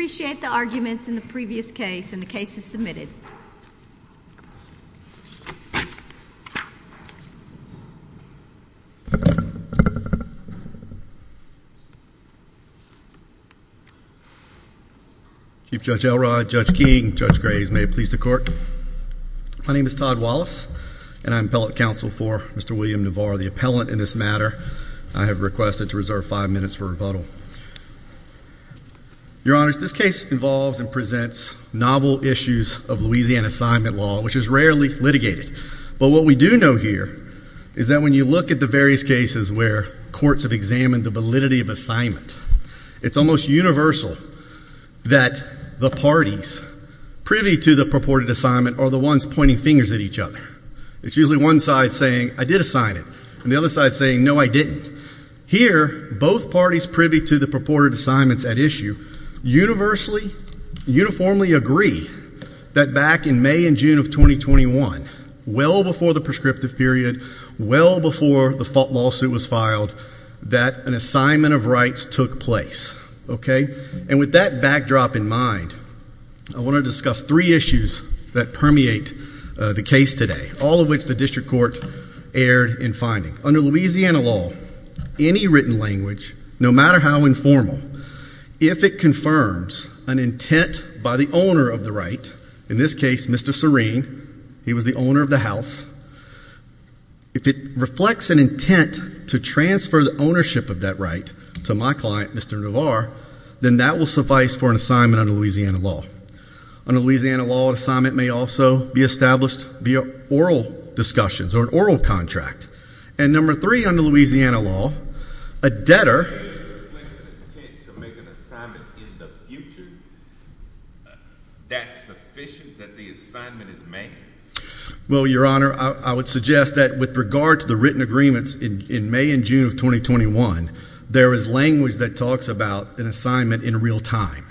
Appreciate the arguments in the previous case and the case is submitted. Chief Judge Elrod, Judge King, Judge Graves, may it please the court. My name is Todd Wallace and I'm appellate counsel for Mr. William Navarre, the appellant in this matter. I have requested to reserve five minutes for rebuttal. Your Honor, this case involves and presents novel issues of Louisiana assignment law, which is rarely litigated, but what we do know here is that when you look at the various cases where courts have examined the validity of assignment, it's almost universal that the parties privy to the purported assignment are the ones pointing fingers at each other. It's usually one side saying, I did assign it, and the other side saying, no, I didn't. Here, both parties privy to the purported assignments at issue, universally, uniformly agree that back in May and June of 2021, well before the prescriptive period, well before the lawsuit was filed, that an assignment of rights took place. Okay? And with that backdrop in mind, I want to discuss three issues that permeate the case today, all of which the district court erred in finding. Under Louisiana law, any written language, no matter how informal, if it confirms an intent by the owner of the right, in this case Mr. Serene, he was the owner of the house, if it reflects an intent to transfer the ownership of that right to my client, Mr. Navar, then that will suffice for an assignment under Louisiana law. Under Louisiana law, an assignment may also be established via oral discussions or an assignment. And number three under Louisiana law, a debtor... If it reflects an intent to make an assignment in the future, that's sufficient that the assignment is made? Well, Your Honor, I would suggest that with regard to the written agreements in May and June of 2021, there is language that talks about an assignment in real time.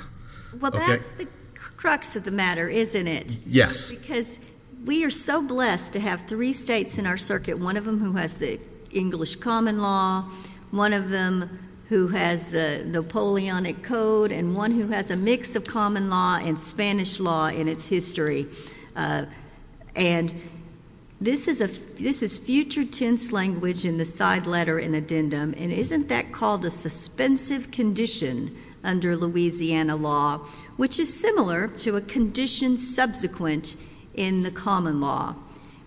Okay? Well, that's the crux of the matter, isn't it? Yes. Because we are so blessed to have three states in our circuit, one of them who has the English common law, one of them who has the Napoleonic code, and one who has a mix of common law and Spanish law in its history. And this is future tense language in the side letter in addendum, and isn't that called a suspensive condition under Louisiana law, which is similar to a condition subsequent in the common law,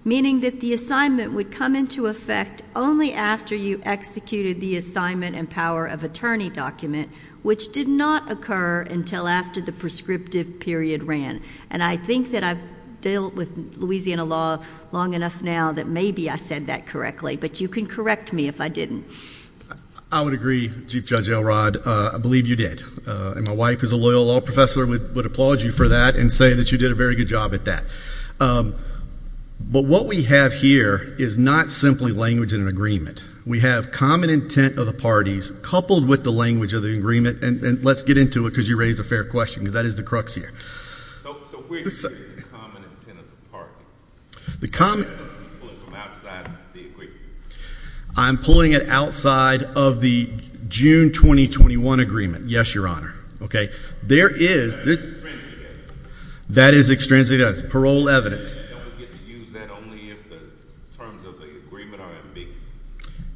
meaning that the assignment would come into effect only after you executed the assignment and power of attorney document, which did not occur until after the prescriptive period ran. And I think that I've dealt with Louisiana law long enough now that maybe I said that correctly, but you can correct me if I didn't. I would agree, Chief Judge Elrod. I believe you did. And my wife is a loyal law professor, would applaud you for that and say that you did a very good job at that. But what we have here is not simply language in an agreement. We have common intent of the parties coupled with the language of the agreement. And let's get into it because you raised a fair question, because that is the crux here. So, where do you get the common intent of the parties? The common... You're pulling it from outside the agreement. I'm pulling it outside of the June 2021 agreement. Yes, Your Honor. There is... That is extrinsic evidence. That is extrinsic evidence, parole evidence. And we get to use that only if the terms of the agreement are ambiguous.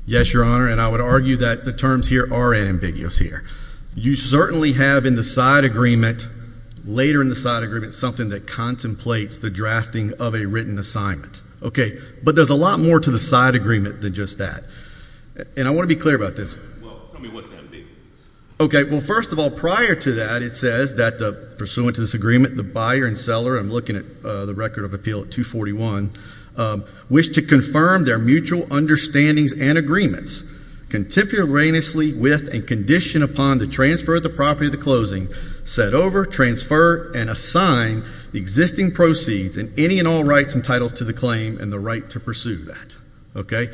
Yes, Your Honor. And I would argue that the terms here are unambiguous here. You certainly have in the side agreement, later in the side agreement, something that contemplates the drafting of a written assignment. Okay. But there's a lot more to the side agreement than just that. And I want to be clear about this. Well, tell me what's ambiguous. Okay. Well, first of all, prior to that, it says that the pursuant to this agreement, the buyer and seller, I'm looking at the record of appeal at 241, wish to confirm their mutual understandings and agreements, contemporaneously with and conditioned upon the transfer of the property of the closing, set over, transfer, and assign the existing proceeds and any and all rights entitled to the claim and the right to pursue that.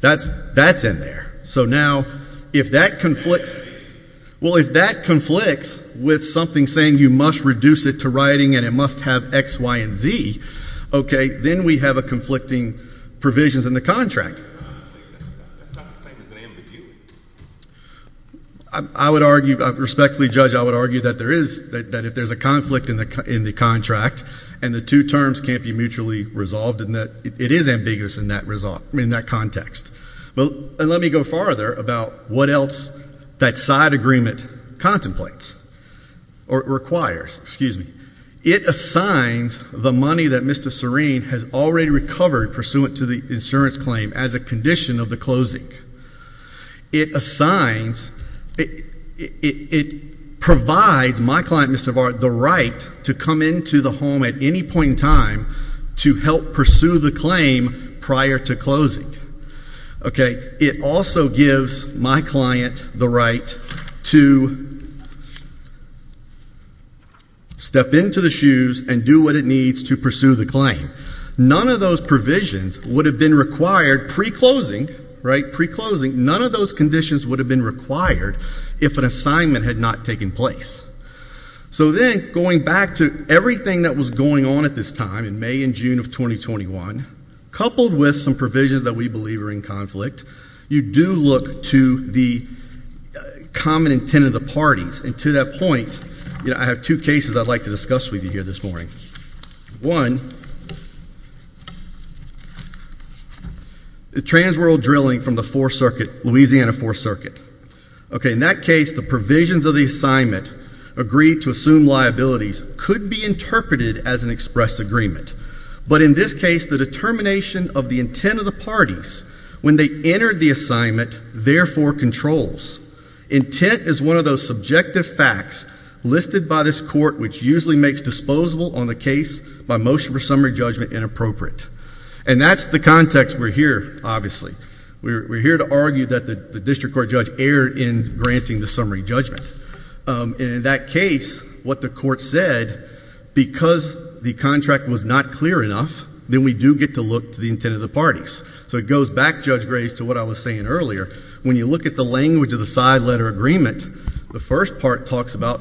That's, that's in there. So now, if that conflicts, well, if that conflicts with something saying you must reduce it to writing and it must have X, Y, and Z, okay, then we have a conflicting provisions in the contract. That's not the same as an ambiguity. I would argue, respectfully, Judge, I would argue that there is, that if there's a conflict in the contract and the two terms can't be mutually resolved in that, it is ambiguous in that result, in that context. Well, and let me go farther about what else that side agreement contemplates or requires. Excuse me. It assigns the money that Mr. Serene has already recovered pursuant to the insurance claim as a condition of the closing. It assigns, it provides my client, Mr. Vard, the right to come into the home at any point in time to help pursue the claim prior to closing. Okay, it also gives my client the right to step into the shoes and do what it needs to pursue the claim. None of those provisions would have been required pre-closing, right, pre-closing, none of those conditions would have been required if an assignment had not taken place. So then, going back to everything that was going on at this time in May and June of 2021, coupled with some provisions that we believe are in conflict, you do look to the common intent of the parties. And to that point, you know, I have two cases I'd like to discuss with you here this morning. One, the Transworld Drilling from the Fourth Circuit, Louisiana Fourth Circuit. Okay, in that case, the provisions of the assignment agreed to assume liabilities could be interpreted as an express agreement. But in this case, the determination of the intent of the parties when they entered the assignment therefore controls. Intent is one of those subjective facts listed by this court which usually makes disposable on the case by motion for summary judgment inappropriate. And that's the context we're here, obviously. We're here to argue that the district court judge erred in granting the summary judgment. And in that case, what the court said, because the contract was not clear enough, then we do get to look to the intent of the parties. So it goes back, Judge Grace, to what I was saying earlier. When you look at the language of the side letter agreement, the first part talks about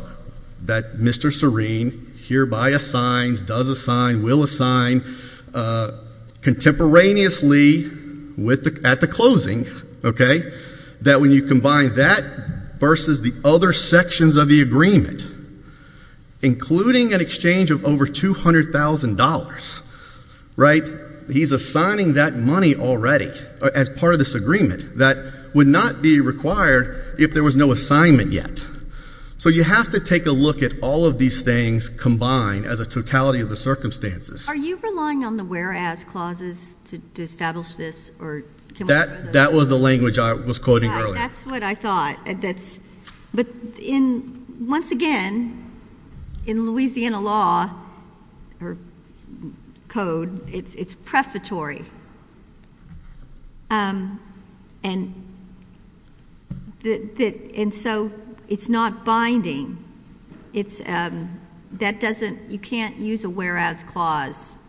that Mr. Serene hereby assigns, does assign, will assign contemporaneously at the closing, okay, that when you combine that versus the other sections of the agreement, including an exchange of over $200,000, right, he's assigning that money already as part of this agreement that would not be required if there was no assignment yet. So you have to take a look at all of these things combined as a totality of the circumstances. Are you relying on the whereas clauses to establish this or can we go further? That was the language I was quoting earlier. Yeah, that's what I thought. But once again, in Louisiana law or code, it's prefatory. And so it's not binding. It's, that doesn't, you can't use a whereas clause.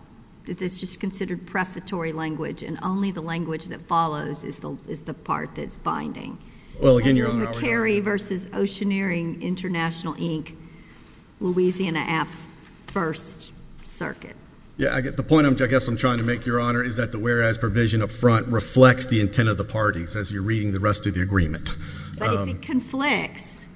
It's just considered prefatory language, and only the language that follows is the part that's binding. Well, again, Your Honor, I would argue— Then you're McCary versus Oceaneering International, Inc., Louisiana 1st Circuit. Yeah, the point I guess I'm trying to make, Your Honor, is that the whereas provision up front reflects the intent of the parties as you're reading the rest of the agreement. But if it conflicts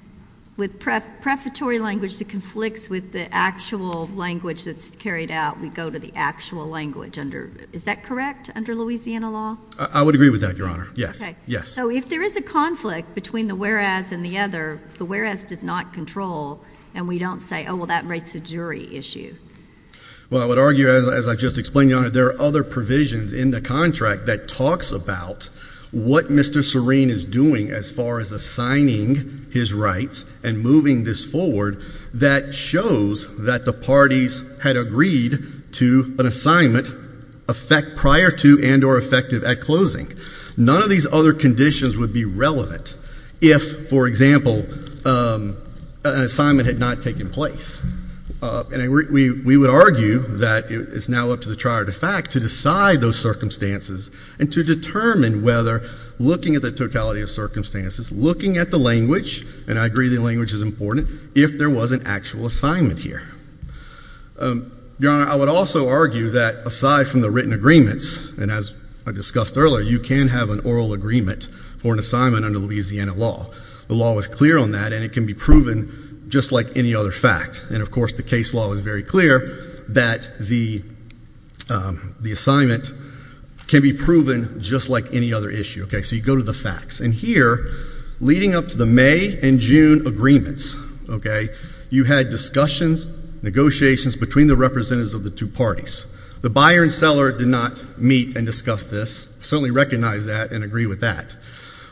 with prefatory language that conflicts with the actual language that's carried out, we go to the actual language under, is that correct, under Louisiana law? I would agree with that, Your Honor, yes, yes. So if there is a conflict between the whereas and the other, the whereas does not control and we don't say, oh, well, that rates a jury issue. Well, I would argue, as I just explained, Your Honor, there are other provisions in the contract that talks about what Mr. Serene is doing as far as assigning his rights and moving this forward that shows that the parties had agreed to an assignment effect prior to and or effective at closing. None of these other conditions would be relevant if, for example, an assignment had not taken place. And we would argue that it's now up to the trier-de-fact to decide those circumstances and to determine whether, looking at the totality of circumstances, looking at the language, and I agree the language is important, if there was an actual assignment here. Your Honor, I would also argue that aside from the written agreements, and as I discussed earlier, you can have an oral agreement for an assignment under Louisiana law. The law is clear on that and it can be proven just like any other fact. And of course, the case law is very clear that the assignment can be proven just like any other issue. So you go to the facts. And here, leading up to the May and June agreements, you had discussions, negotiations between the representatives of the two parties. The buyer and seller did not meet and discuss this, certainly recognize that and agree with that.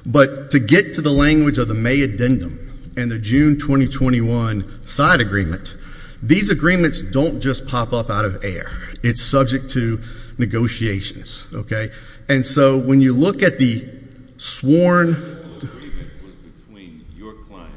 But to get to the language of the May addendum and the June 2021 side agreement, these agreements don't just pop up out of air. It's subject to negotiations, okay? And so, when you look at the sworn- The oral agreement was between your client,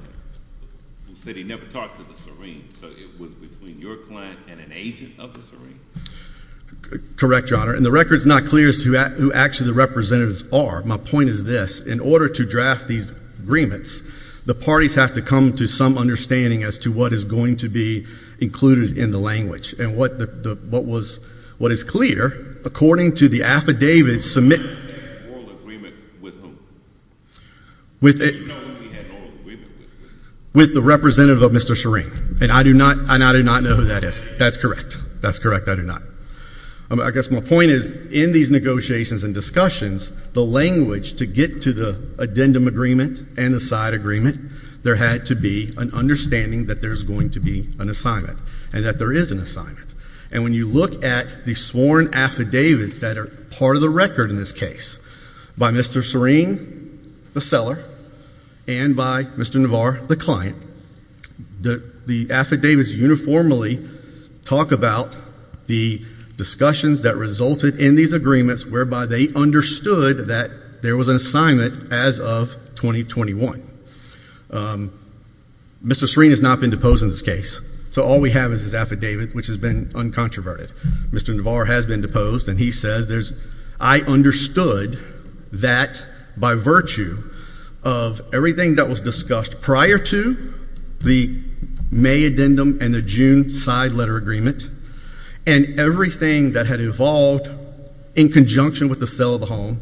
who said he never talked to the serene, so it was between your client and an agent of the serene. Correct, Your Honor. And the record's not clear as to who actually the representatives are. My point is this. In order to draft these agreements, the parties have to come to some understanding as to what is going to be included in the language. And what is clear, according to the affidavits submitted- Who had the oral agreement with whom? With the representative of Mr. Serene. And I do not know who that is. That's correct. That's correct. I do not. I guess my point is, in these negotiations and discussions, the language to get to the addendum agreement and the side agreement, there had to be an understanding that there's going to be an assignment and that there is an assignment. And when you look at the sworn affidavits that are part of the record in this case, by Mr. Serene, the seller, and by Mr. Navar, the client, the affidavits uniformly talk about the discussions that resulted in these agreements whereby they understood that there was an assignment as of 2021. Mr. Serene has not been deposed in this case. So all we have is his affidavit, which has been uncontroverted. Mr. Navar has been deposed, and he says, I understood that by virtue of everything that was discussed prior to the May addendum and the June side letter agreement, and everything that had evolved in conjunction with the sale of the home,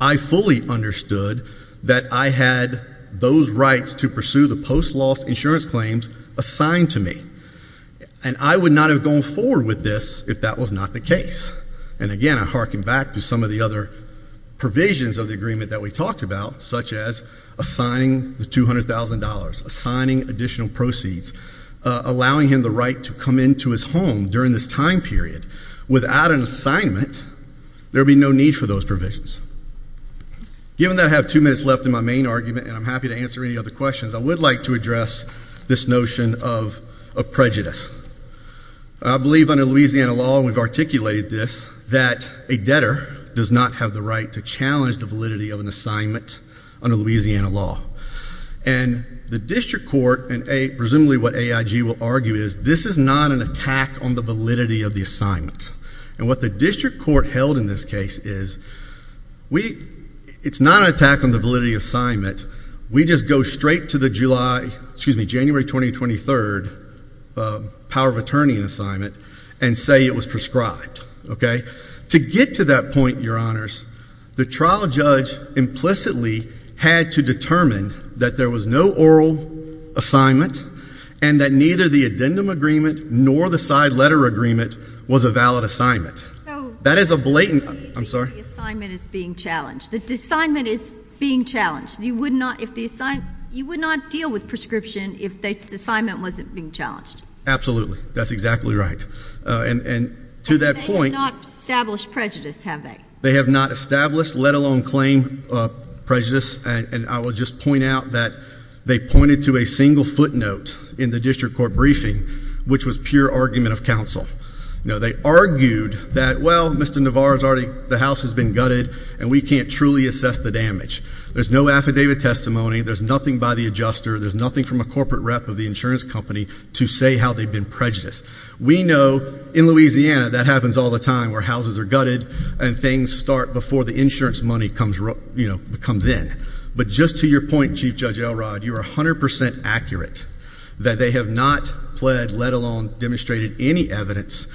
I fully understood that I had those rights to pursue the post-loss insurance claims assigned to me. And I would not have gone forward with this if that was not the case. And again, I hearken back to some of the other provisions of the agreement that we talked about, such as assigning the $200,000, assigning additional proceeds, allowing him the right to come into his home during this time period. Without an assignment, there would be no need for those provisions. Given that I have two minutes left in my main argument, and I'm happy to answer any other questions, I would like to address this notion of prejudice. I believe under Louisiana law, and we've articulated this, that a debtor does not have the right to challenge the validity of an assignment under Louisiana law. And the district court, and presumably what AIG will argue is, this is not an attack on the validity of the assignment. And what the district court held in this case is, it's not an attack on the validity of the assignment. We just go straight to the January 2023 power of attorney assignment and say it was prescribed. Okay? To get to that point, your honors, the trial judge implicitly had to determine that there was no oral assignment, and that neither the addendum agreement nor the side letter agreement was a valid assignment. That is a blatant... I'm sorry? The assignment is being challenged. The assignment is being challenged. You would not deal with prescription if the assignment wasn't being challenged. Absolutely. That's exactly right. And to that point... And they have not established prejudice, have they? They have not established, let alone claim, prejudice. And I will just point out that they pointed to a single footnote in the district court briefing, which was pure argument of counsel. They argued that, well, Mr. Navarro's already, the house has been gutted, and we can't truly assess the damage. There's no affidavit testimony, there's nothing by the adjuster, there's nothing from a corporate rep of the insurance company to say how they've been prejudiced. We know, in Louisiana, that happens all the time, where houses are gutted, and things start before the insurance money comes in. But just to your point, Chief Judge Elrod, you are 100% accurate that they have not pled, let alone demonstrated any evidence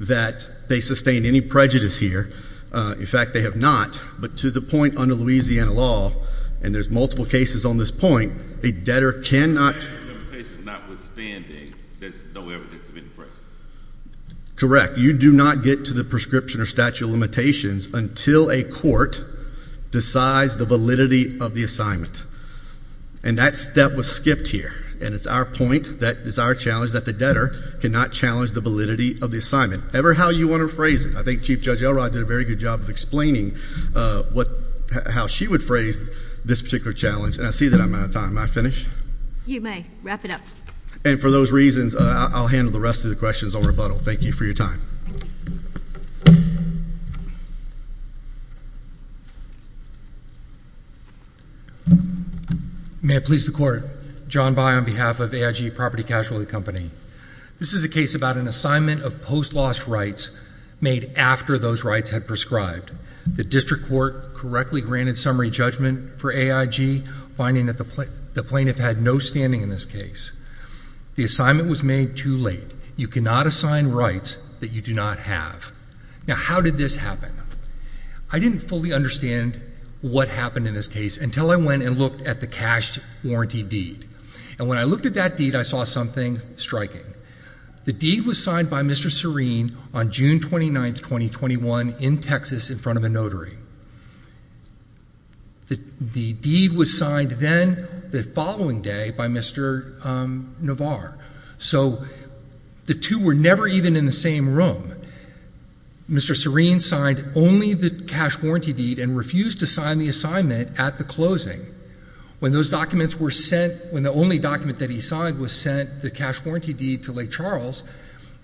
that they sustained any prejudice here. In fact, they have not. But to the point under Louisiana law, and there's multiple cases on this point, a debtor cannot... Correct. You do not get to the prescription or statute of limitations until a court decides the validity of the assignment. And that step was skipped here. And it's our point, it's our challenge, that the debtor cannot challenge the validity of the assignment, ever how you want to phrase it. I think Chief Judge Elrod did a very good job of explaining how she would phrase this particular challenge. And I see that I'm out of time. May I finish? You may. Wrap it up. And for those reasons, I'll handle the rest of the questions on rebuttal. Thank you for your time. May it please the court. John By on behalf of AIG Property Casualty Company. This is a case about an assignment of post-loss rights made after those rights had prescribed. The district court correctly granted summary judgment for AIG, finding that the plaintiff had no standing in this case. The assignment was made too late. You cannot assign rights that you do not have. Now how did this happen? I didn't fully understand what happened in this case until I went and looked at the cash warranty deed. And when I looked at that deed, I saw something striking. The deed was signed by Mr. Serene on June 29th, 2021 in Texas in front of a notary. The deed was signed then the following day by Mr. Navar. So the two were never even in the same room. Mr. Serene signed only the cash warranty deed and refused to sign the assignment at the When those documents were sent, when the only document that he signed was sent, the cash warranty deed to Lake Charles,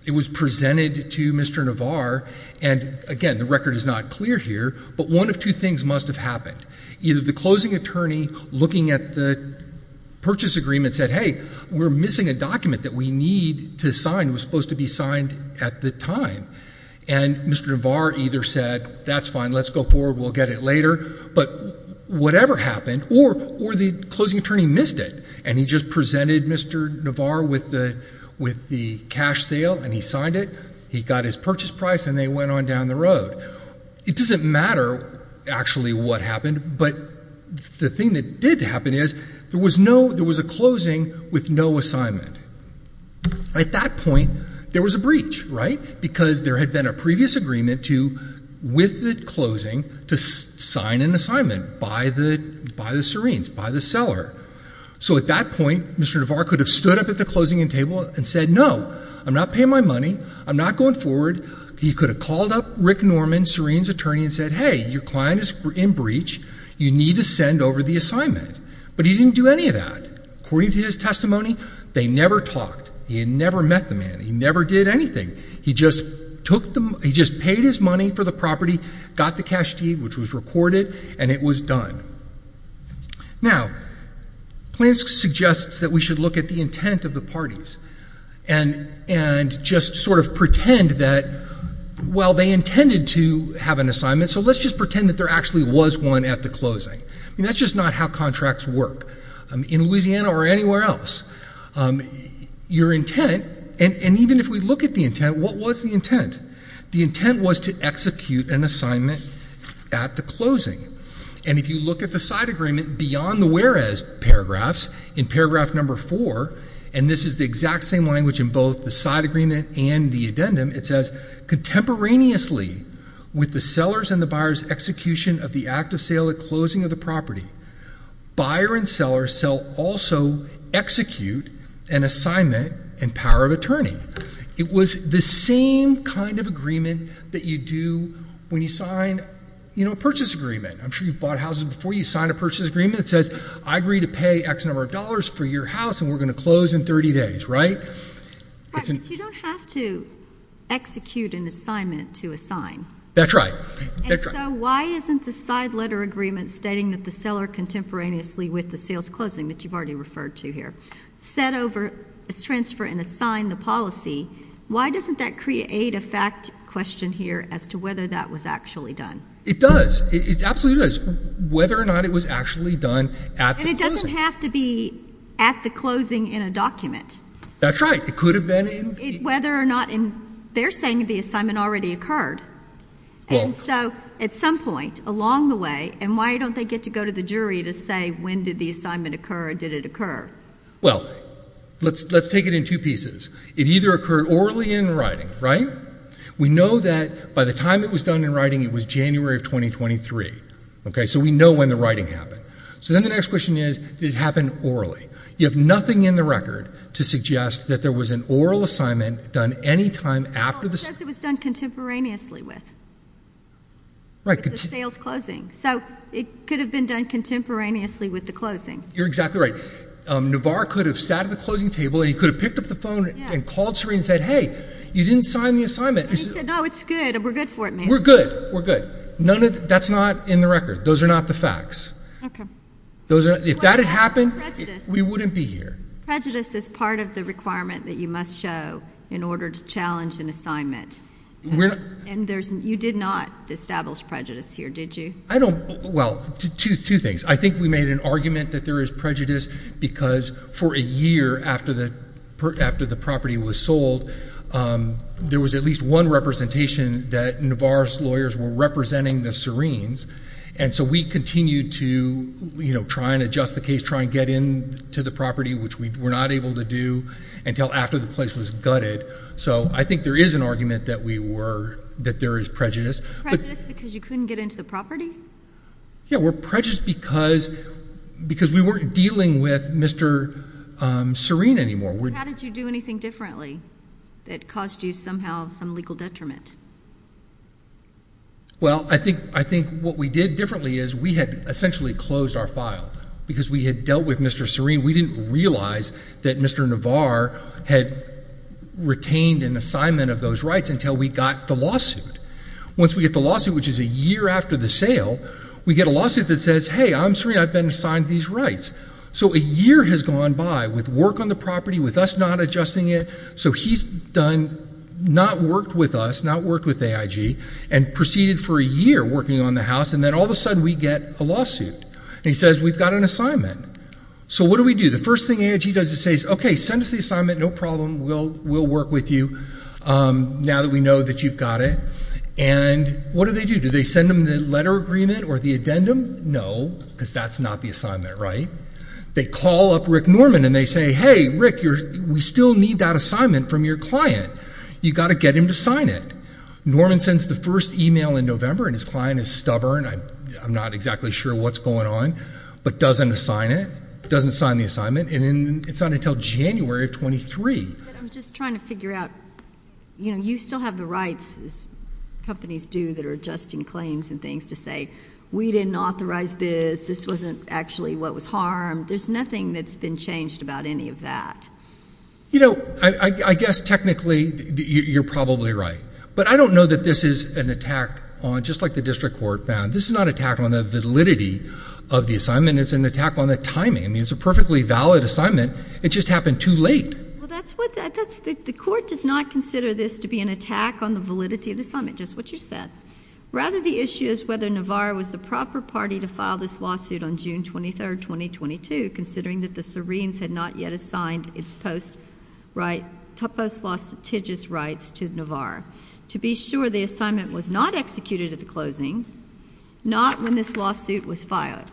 it was presented to Mr. Navar. And again, the record is not clear here, but one of two things must have happened. Either the closing attorney looking at the purchase agreement said, hey, we're missing a document that we need to sign, was supposed to be signed at the time. And Mr. Navar either said, that's fine, let's go forward, we'll get it later. But whatever happened, or the closing attorney missed it. And he just presented Mr. Navar with the cash sale and he signed it. He got his purchase price and they went on down the road. It doesn't matter actually what happened, but the thing that did happen is there was a closing with no assignment. At that point, there was a breach, right? Because there had been a previous agreement with the closing to sign an assignment by the Serene's, by the seller. So at that point, Mr. Navar could have stood up at the closing table and said, no, I'm not paying my money. I'm not going forward. He could have called up Rick Norman, Serene's attorney, and said, hey, your client is in breach. You need to send over the assignment. But he didn't do any of that. According to his testimony, they never talked. He had never met the man. He never did anything. He just paid his money for the property, got the cash deed, which was recorded, and it was done. Now, Plinsk suggests that we should look at the intent of the parties. And just sort of pretend that, well, they intended to have an assignment, so let's just pretend that there actually was one at the closing. And that's just not how contracts work in Louisiana or anywhere else. Your intent, and even if we look at the intent, what was the intent? The intent was to execute an assignment at the closing. And if you look at the side agreement beyond the whereas paragraphs, in paragraph number four, and this is the exact same language in both the side agreement and the addendum, it says, contemporaneously with the seller's and the buyer's execution of the act of sale at closing of the property, buyer and seller shall also execute an assignment in power of attorney. It was the same kind of agreement that you do when you sign a purchase agreement. I'm sure you've bought houses before, you sign a purchase agreement that says, I agree to pay X number of dollars for your house, and we're going to close in 30 days, right? But you don't have to execute an assignment to assign. That's right. And so why isn't the side letter agreement stating that the seller contemporaneously with the sales closing, that you've already referred to here, set over, transfer, and assign the policy, why doesn't that create a fact question here as to whether that was actually done? It does, it absolutely does, whether or not it was actually done at the closing. But it doesn't have to be at the closing in a document. That's right. It could have been in the- Whether or not in, they're saying the assignment already occurred. And so at some point along the way, and why don't they get to go to the jury to say, when did the assignment occur, did it occur? Well, let's take it in two pieces. It either occurred orally in writing, right? We know that by the time it was done in writing, it was January of 2023, okay? So we know when the writing happened. So then the next question is, did it happen orally? You have nothing in the record to suggest that there was an oral assignment done any time after the- Well, it says it was done contemporaneously with, with the sales closing. So it could have been done contemporaneously with the closing. You're exactly right. Navar could have sat at the closing table, and he could have picked up the phone and called Serena and said, hey, you didn't sign the assignment. And he said, no, it's good, and we're good for it, ma'am. We're good, we're good. None of, that's not in the record. Those are not the facts. Okay. Those are, if that had happened, we wouldn't be here. Prejudice is part of the requirement that you must show in order to challenge an assignment. And there's, you did not establish prejudice here, did you? I don't, well, two things. I think we made an argument that there is prejudice because for a year after the property was sold, there was at least one representation that Navar's lawyers were representing the Serenes. And so we continued to try and adjust the case, try and get into the property, which we were not able to do until after the place was gutted. So I think there is an argument that we were, that there is prejudice. Prejudice because you couldn't get into the property? Yeah, we're prejudiced because we weren't dealing with Mr. Serena anymore. How did you do anything differently that caused you somehow some legal detriment? Well, I think what we did differently is we had essentially closed our file because we had dealt with Mr. Serena. We didn't realize that Mr. Navar had retained an assignment of those rights until we got the lawsuit. Once we get the lawsuit, which is a year after the sale, we get a lawsuit that says, hey, I'm Serena, I've been assigned these rights. So a year has gone by with work on the property, with us not adjusting it. So he's done, not worked with us, not worked with AIG, and proceeded for a year working on the house, and then all of a sudden we get a lawsuit. And he says, we've got an assignment. So what do we do? The first thing AIG does is say, okay, send us the assignment, no problem, we'll work with you now that we know that you've got it. And what do they do? Do they send them the letter agreement or the addendum? No, because that's not the assignment, right? They call up Rick Norman and they say, hey, Rick, we still need that assignment from your client. You've got to get him to sign it. Norman sends the first email in November, and his client is stubborn, I'm not exactly sure what's going on, but doesn't sign it, doesn't sign the assignment. And it's not until January of 23. But I'm just trying to figure out, you know, you still have the rights as companies do that are adjusting claims and things to say, we didn't authorize this, this wasn't actually what was harmed. There's nothing that's been changed about any of that. You know, I guess technically you're probably right. But I don't know that this is an attack on, just like the district court found, this is not an attack on the validity of the assignment, it's an attack on the timing. I mean, it's a perfectly valid assignment, it just happened too late. Well, that's what, the court does not consider this to be an attack on the validity of the assignment, just what you said. Rather, the issue is whether Navarro was the proper party to file this lawsuit on June 23, 2022, considering that the Syrenes had not yet assigned its post-right, post-law strategic rights to Navarro. To be sure, the assignment was not executed at the closing, not when this lawsuit was filed,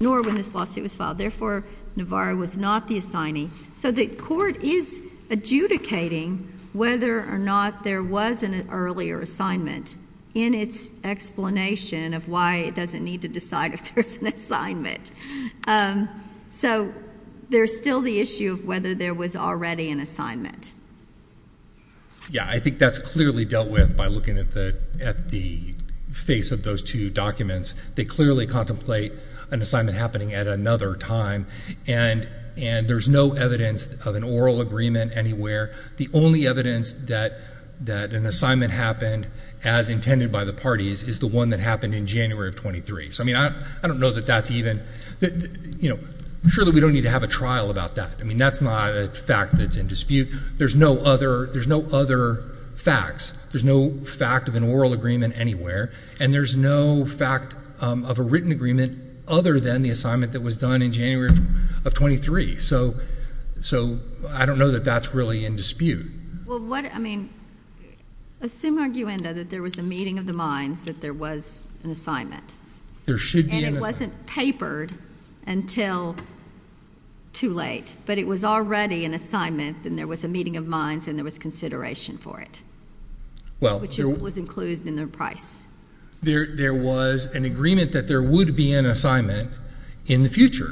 nor when this lawsuit was filed. Therefore, Navarro was not the assignee. So the court is adjudicating whether or not there was an earlier assignment in its explanation of why it doesn't need to decide if there's an assignment. So there's still the issue of whether there was already an assignment. Yeah, I think that's clearly dealt with by looking at the face of those two documents. They clearly contemplate an assignment happening at another time, and there's no evidence of an oral agreement anywhere. The only evidence that an assignment happened as intended by the parties is the one that happened in January of 23. So, I mean, I don't know that that's even, you know, surely we don't need to have a trial about that. I mean, that's not a fact that's in dispute. There's no other facts. There's no fact of an oral agreement anywhere, and there's no fact of a written agreement other than the assignment that was done in January of 23. So, I don't know that that's really in dispute. Well, what, I mean, assume, arguendo, that there was a meeting of the minds that there was an assignment. There should be an assignment. And it wasn't papered until too late. But it was already an assignment, and there was a meeting of minds, and there was consideration for it. Well, there was. Which was included in the price. There was an agreement that there would be an assignment in the future,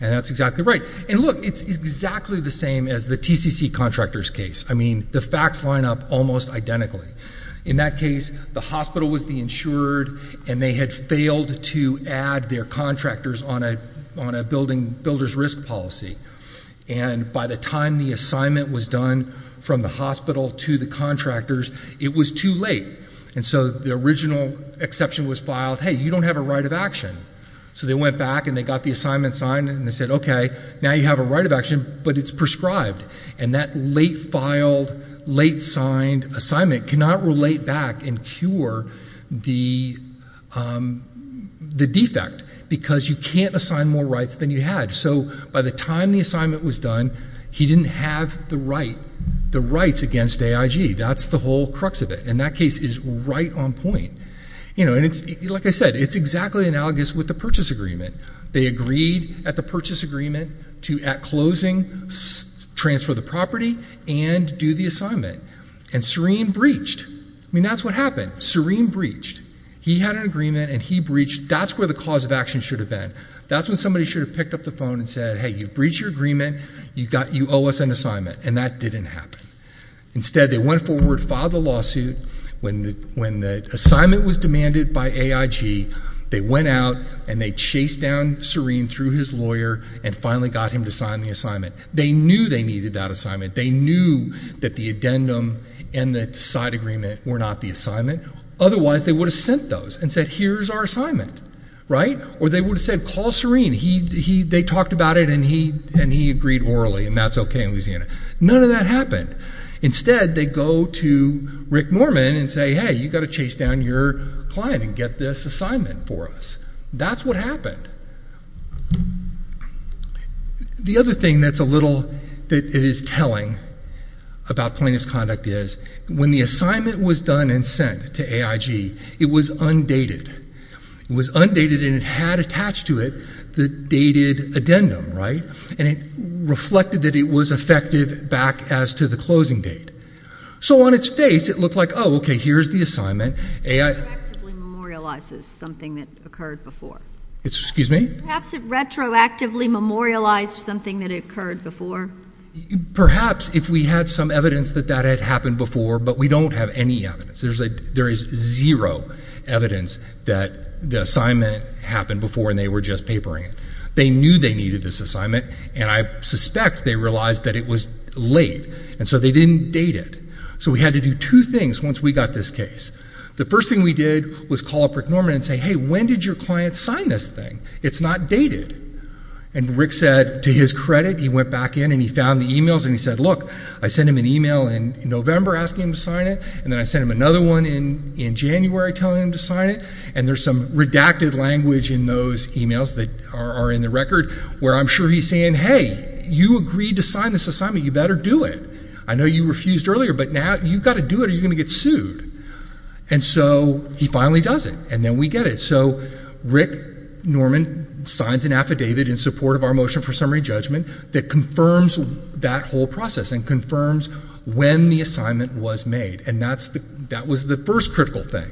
and that's exactly right. And look, it's exactly the same as the TCC contractor's case. I mean, the facts line up almost identically. In that case, the hospital was the insured, and they had failed to add their contractors on a builder's risk policy. And by the time the assignment was done from the hospital to the contractors, it was too late. And so, the original exception was filed, hey, you don't have a right of action. So, they went back and they got the assignment signed, and they said, okay, now you have a right of action, but it's prescribed. And that late filed, late signed assignment cannot relate back and cure the defect, because you can't assign more rights than you had. So, by the time the assignment was done, he didn't have the rights against AIG. That's the whole crux of it. And that case is right on point. And like I said, it's exactly analogous with the purchase agreement. They agreed at the purchase agreement to, at closing, transfer the property and do the assignment. And Serene breached. I mean, that's what happened. Serene breached. He had an agreement, and he breached. That's where the cause of action should have been. That's when somebody should have picked up the phone and said, hey, you breached your agreement, you owe us an assignment. And that didn't happen. Instead, they went forward, filed the lawsuit. When the assignment was demanded by AIG, they went out and they chased down Serene through his lawyer and finally got him to sign the assignment. They knew they needed that assignment. They knew that the addendum and the side agreement were not the assignment. Otherwise, they would have sent those and said, here's our assignment, right? Or they would have said, call Serene. They talked about it, and he agreed orally, and that's okay in Louisiana. None of that happened. Instead, they go to Rick Norman and say, hey, you've got to chase down your client and get this assignment for us. That's what happened. The other thing that's a little, that is telling about plaintiff's conduct is, when the assignment was done and sent to AIG, it was undated. It was undated and it had attached to it the dated addendum, right? And it reflected that it was effective back as to the closing date. So on its face, it looked like, okay, here's the assignment. AI- Retroactively memorializes something that occurred before. It's, excuse me? Perhaps it retroactively memorialized something that occurred before. Perhaps if we had some evidence that that had happened before, but we don't have any evidence. There is zero evidence that the assignment happened before and they were just papering it. They knew they needed this assignment and I suspect they realized that it was late and so they didn't date it. So we had to do two things once we got this case. The first thing we did was call up Rick Norman and say, hey, when did your client sign this thing? It's not dated. And Rick said, to his credit, he went back in and he found the emails and he said, look, I sent him an email in November asking him to sign it and then I sent him another one in January telling him to sign it. And there's some redacted language in those emails that are in the record where I'm sure he's saying, hey, you agreed to sign this assignment, you better do it. I know you refused earlier, but now you've got to do it or you're going to get sued. And so he finally does it and then we get it. So Rick Norman signs an affidavit in support of our motion for summary judgment that confirms that whole process and confirms when the assignment was made. And that was the first critical thing.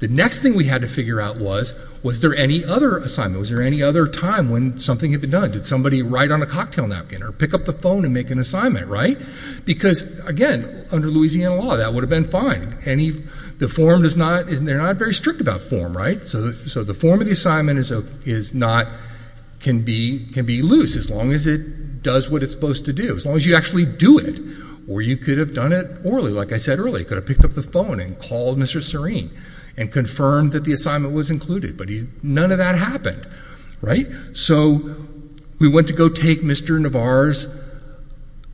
The next thing we had to figure out was, was there any other assignment? Was there any other time when something had been done? Did somebody write on a cocktail napkin or pick up the phone and make an assignment, right? Because, again, under Louisiana law, that would have been fine. Any, the form does not, they're not very strict about form, right? So the form of the assignment is not, can be loose as long as it does what it's supposed to do. As long as you actually do it or you could have done it orally, like I said earlier. They could have picked up the phone and called Mr. Serene and confirmed that the assignment was included. But none of that happened, right? So we went to go take Mr. Navar's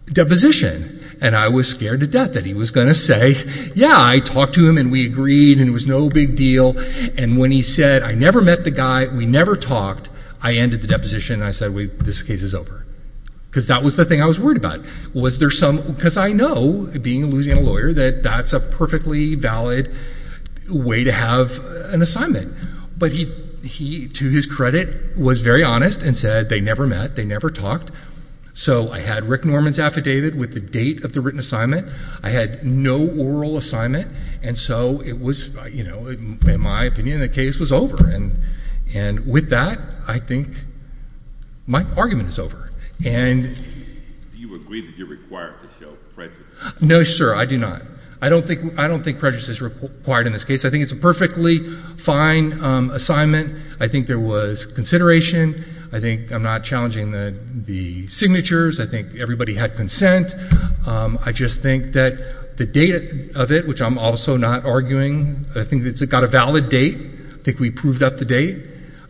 deposition and I was scared to death that he was going to say, yeah, I talked to him and we agreed and it was no big deal. And when he said, I never met the guy, we never talked, I ended the deposition and I said, wait, this case is over. Because that was the thing I was worried about. Was there some, because I know, being a Louisiana lawyer, that that's a perfectly valid way to have an assignment. But he, to his credit, was very honest and said they never met, they never talked. So I had Rick Norman's affidavit with the date of the written assignment. I had no oral assignment, and so it was, in my opinion, the case was over. And with that, I think my argument is over. And- Do you agree that you're required to show prejudice? No, sir, I do not. I don't think prejudice is required in this case. I think it's a perfectly fine assignment. I think there was consideration. I think I'm not challenging the signatures. I think everybody had consent. I just think that the date of it, which I'm also not arguing, I think it's got a valid date. I think we proved up the date.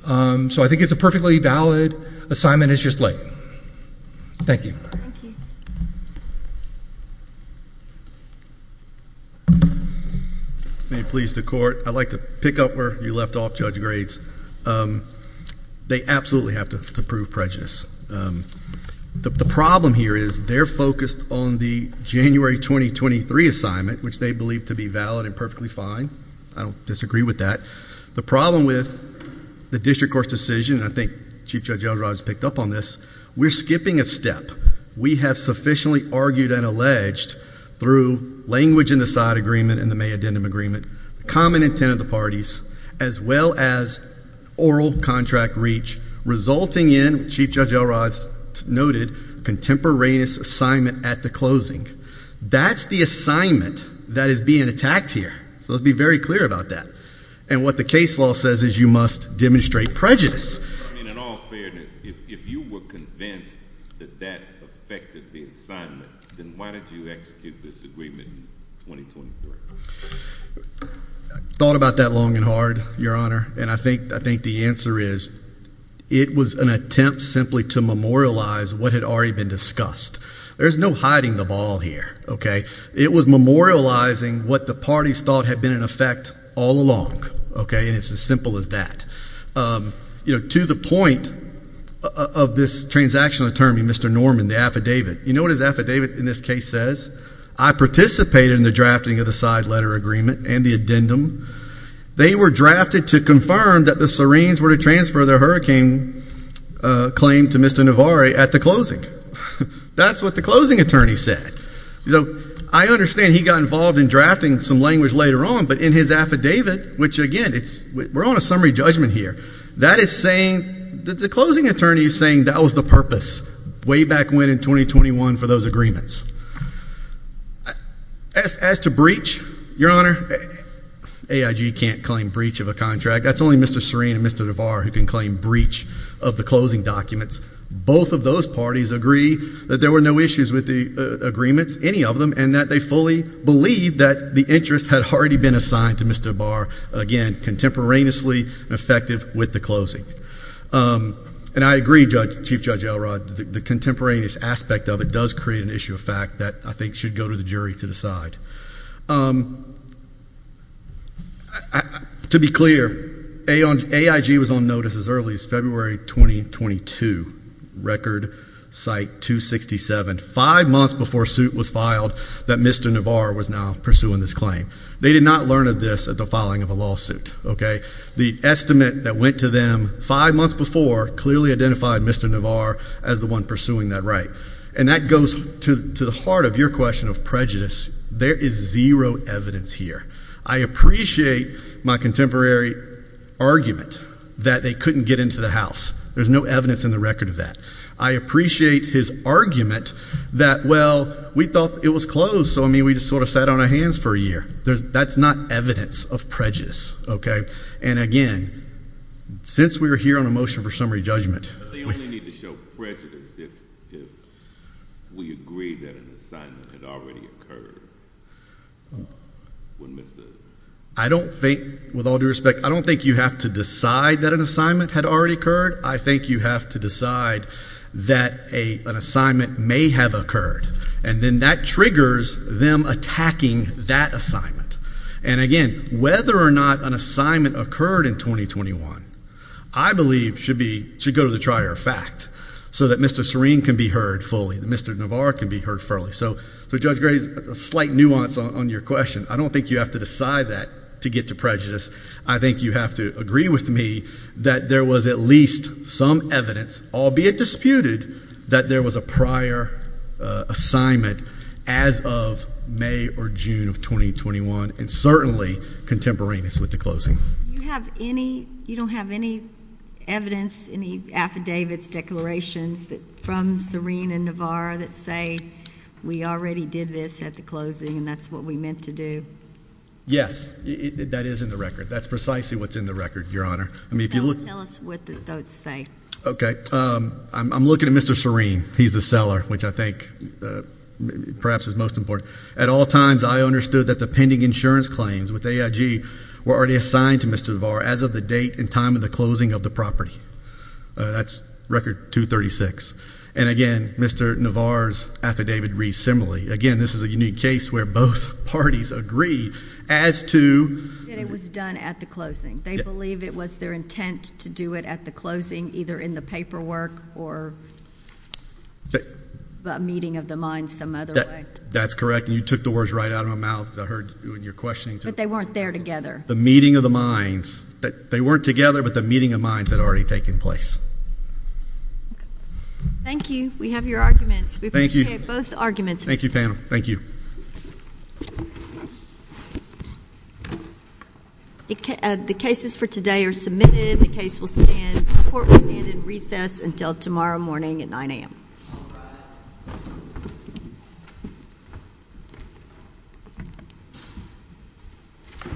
So I think it's a perfectly valid assignment, it's just late. Thank you. Thank you. May it please the court. I'd like to pick up where you left off, Judge Grades. They absolutely have to prove prejudice. The problem here is they're focused on the January 2023 assignment, which they believe to be valid and perfectly fine. I don't disagree with that. The problem with the district court's decision, and I think Chief Judge Elrod has picked up on this, we're skipping a step. We have sufficiently argued and alleged through language in the side agreement and the May addendum agreement, common intent of the parties, as well as oral contract reach. Resulting in, Chief Judge Elrod noted, contemporaneous assignment at the closing. That's the assignment that is being attacked here, so let's be very clear about that. And what the case law says is you must demonstrate prejudice. I mean, in all fairness, if you were convinced that that affected the assignment, then why did you execute this agreement in 2024? I thought about that long and hard, Your Honor, and I think the answer is, it was an attempt simply to memorialize what had already been discussed. There's no hiding the ball here, okay? It was memorializing what the parties thought had been in effect all along, okay? And it's as simple as that. To the point of this transactional attorney, Mr. Norman, the affidavit. You know what his affidavit in this case says? I participated in the drafting of the side letter agreement and the addendum. They were drafted to confirm that the Syrenes were to transfer their hurricane claim to Mr. Navare at the closing. That's what the closing attorney said. So, I understand he got involved in drafting some language later on, but in his affidavit, which again, we're on a summary judgment here. That is saying, the closing attorney is saying that was the purpose, way back when in 2021 for those agreements. As to breach, Your Honor, AIG can't claim breach of a contract. That's only Mr. Syrene and Mr. Navare who can claim breach of the closing documents. Both of those parties agree that there were no issues with the agreements, any of them, and that they fully believe that the interest had already been assigned to Mr. Navare, again, contemporaneously effective with the closing. And I agree, Chief Judge Elrod, the contemporaneous aspect of it does create an issue of fact that I think should go to the jury to decide. To be clear, AIG was on notice as early as February 2022, record site 267, five months before a suit was filed, that Mr. Navare was now pursuing this claim. They did not learn of this at the filing of a lawsuit, okay? The estimate that went to them five months before, clearly identified Mr. Navare as the one pursuing that right. And that goes to the heart of your question of prejudice. There is zero evidence here. I appreciate my contemporary argument that they couldn't get into the house. There's no evidence in the record of that. I appreciate his argument that, well, we thought it was closed, so I mean, we just sort of sat on our hands for a year. That's not evidence of prejudice, okay? And again, since we are here on a motion for summary judgment. They only need to show prejudice if we agree that an assignment had already occurred. I don't think, with all due respect, I don't think you have to decide that an assignment had already occurred. I think you have to decide that an assignment may have occurred. And then that triggers them attacking that assignment. And again, whether or not an assignment occurred in 2021, I believe should go to the trier of fact. So that Mr. Serene can be heard fully. Mr. Navare can be heard fully. So Judge Gray, a slight nuance on your question. I don't think you have to decide that to get to prejudice. I think you have to agree with me that there was at least some evidence, albeit disputed, that there was a prior assignment as of May or June of 2021. And certainly contemporaneous with the closing. Do you have any, you don't have any evidence, any affidavits, declarations from Serene and Navare that say we already did this at the closing and that's what we meant to do? Yes, that is in the record. That's precisely what's in the record, Your Honor. I mean, if you look. Tell us what those say. Okay, I'm looking at Mr. Serene. He's the seller, which I think perhaps is most important. At all times, I understood that the pending insurance claims with AIG were already assigned to Mr. Navare as of the date and time of the closing of the property. That's record 236. And again, Mr. Navare's affidavit reads similarly. Again, this is a unique case where both parties agreed as to. That it was done at the closing. They believe it was their intent to do it at the closing, either in the paperwork or a meeting of the mind some other way. That's correct. And you took the words right out of my mouth. I heard you in your questioning. But they weren't there together. The meeting of the minds. They weren't together, but the meeting of minds had already taken place. Thank you. We have your arguments. We appreciate both arguments. Thank you, panel. Thank you. The cases for today are submitted. The case will stand. The court will stand in recess until tomorrow morning at 9 a.m. Thank you.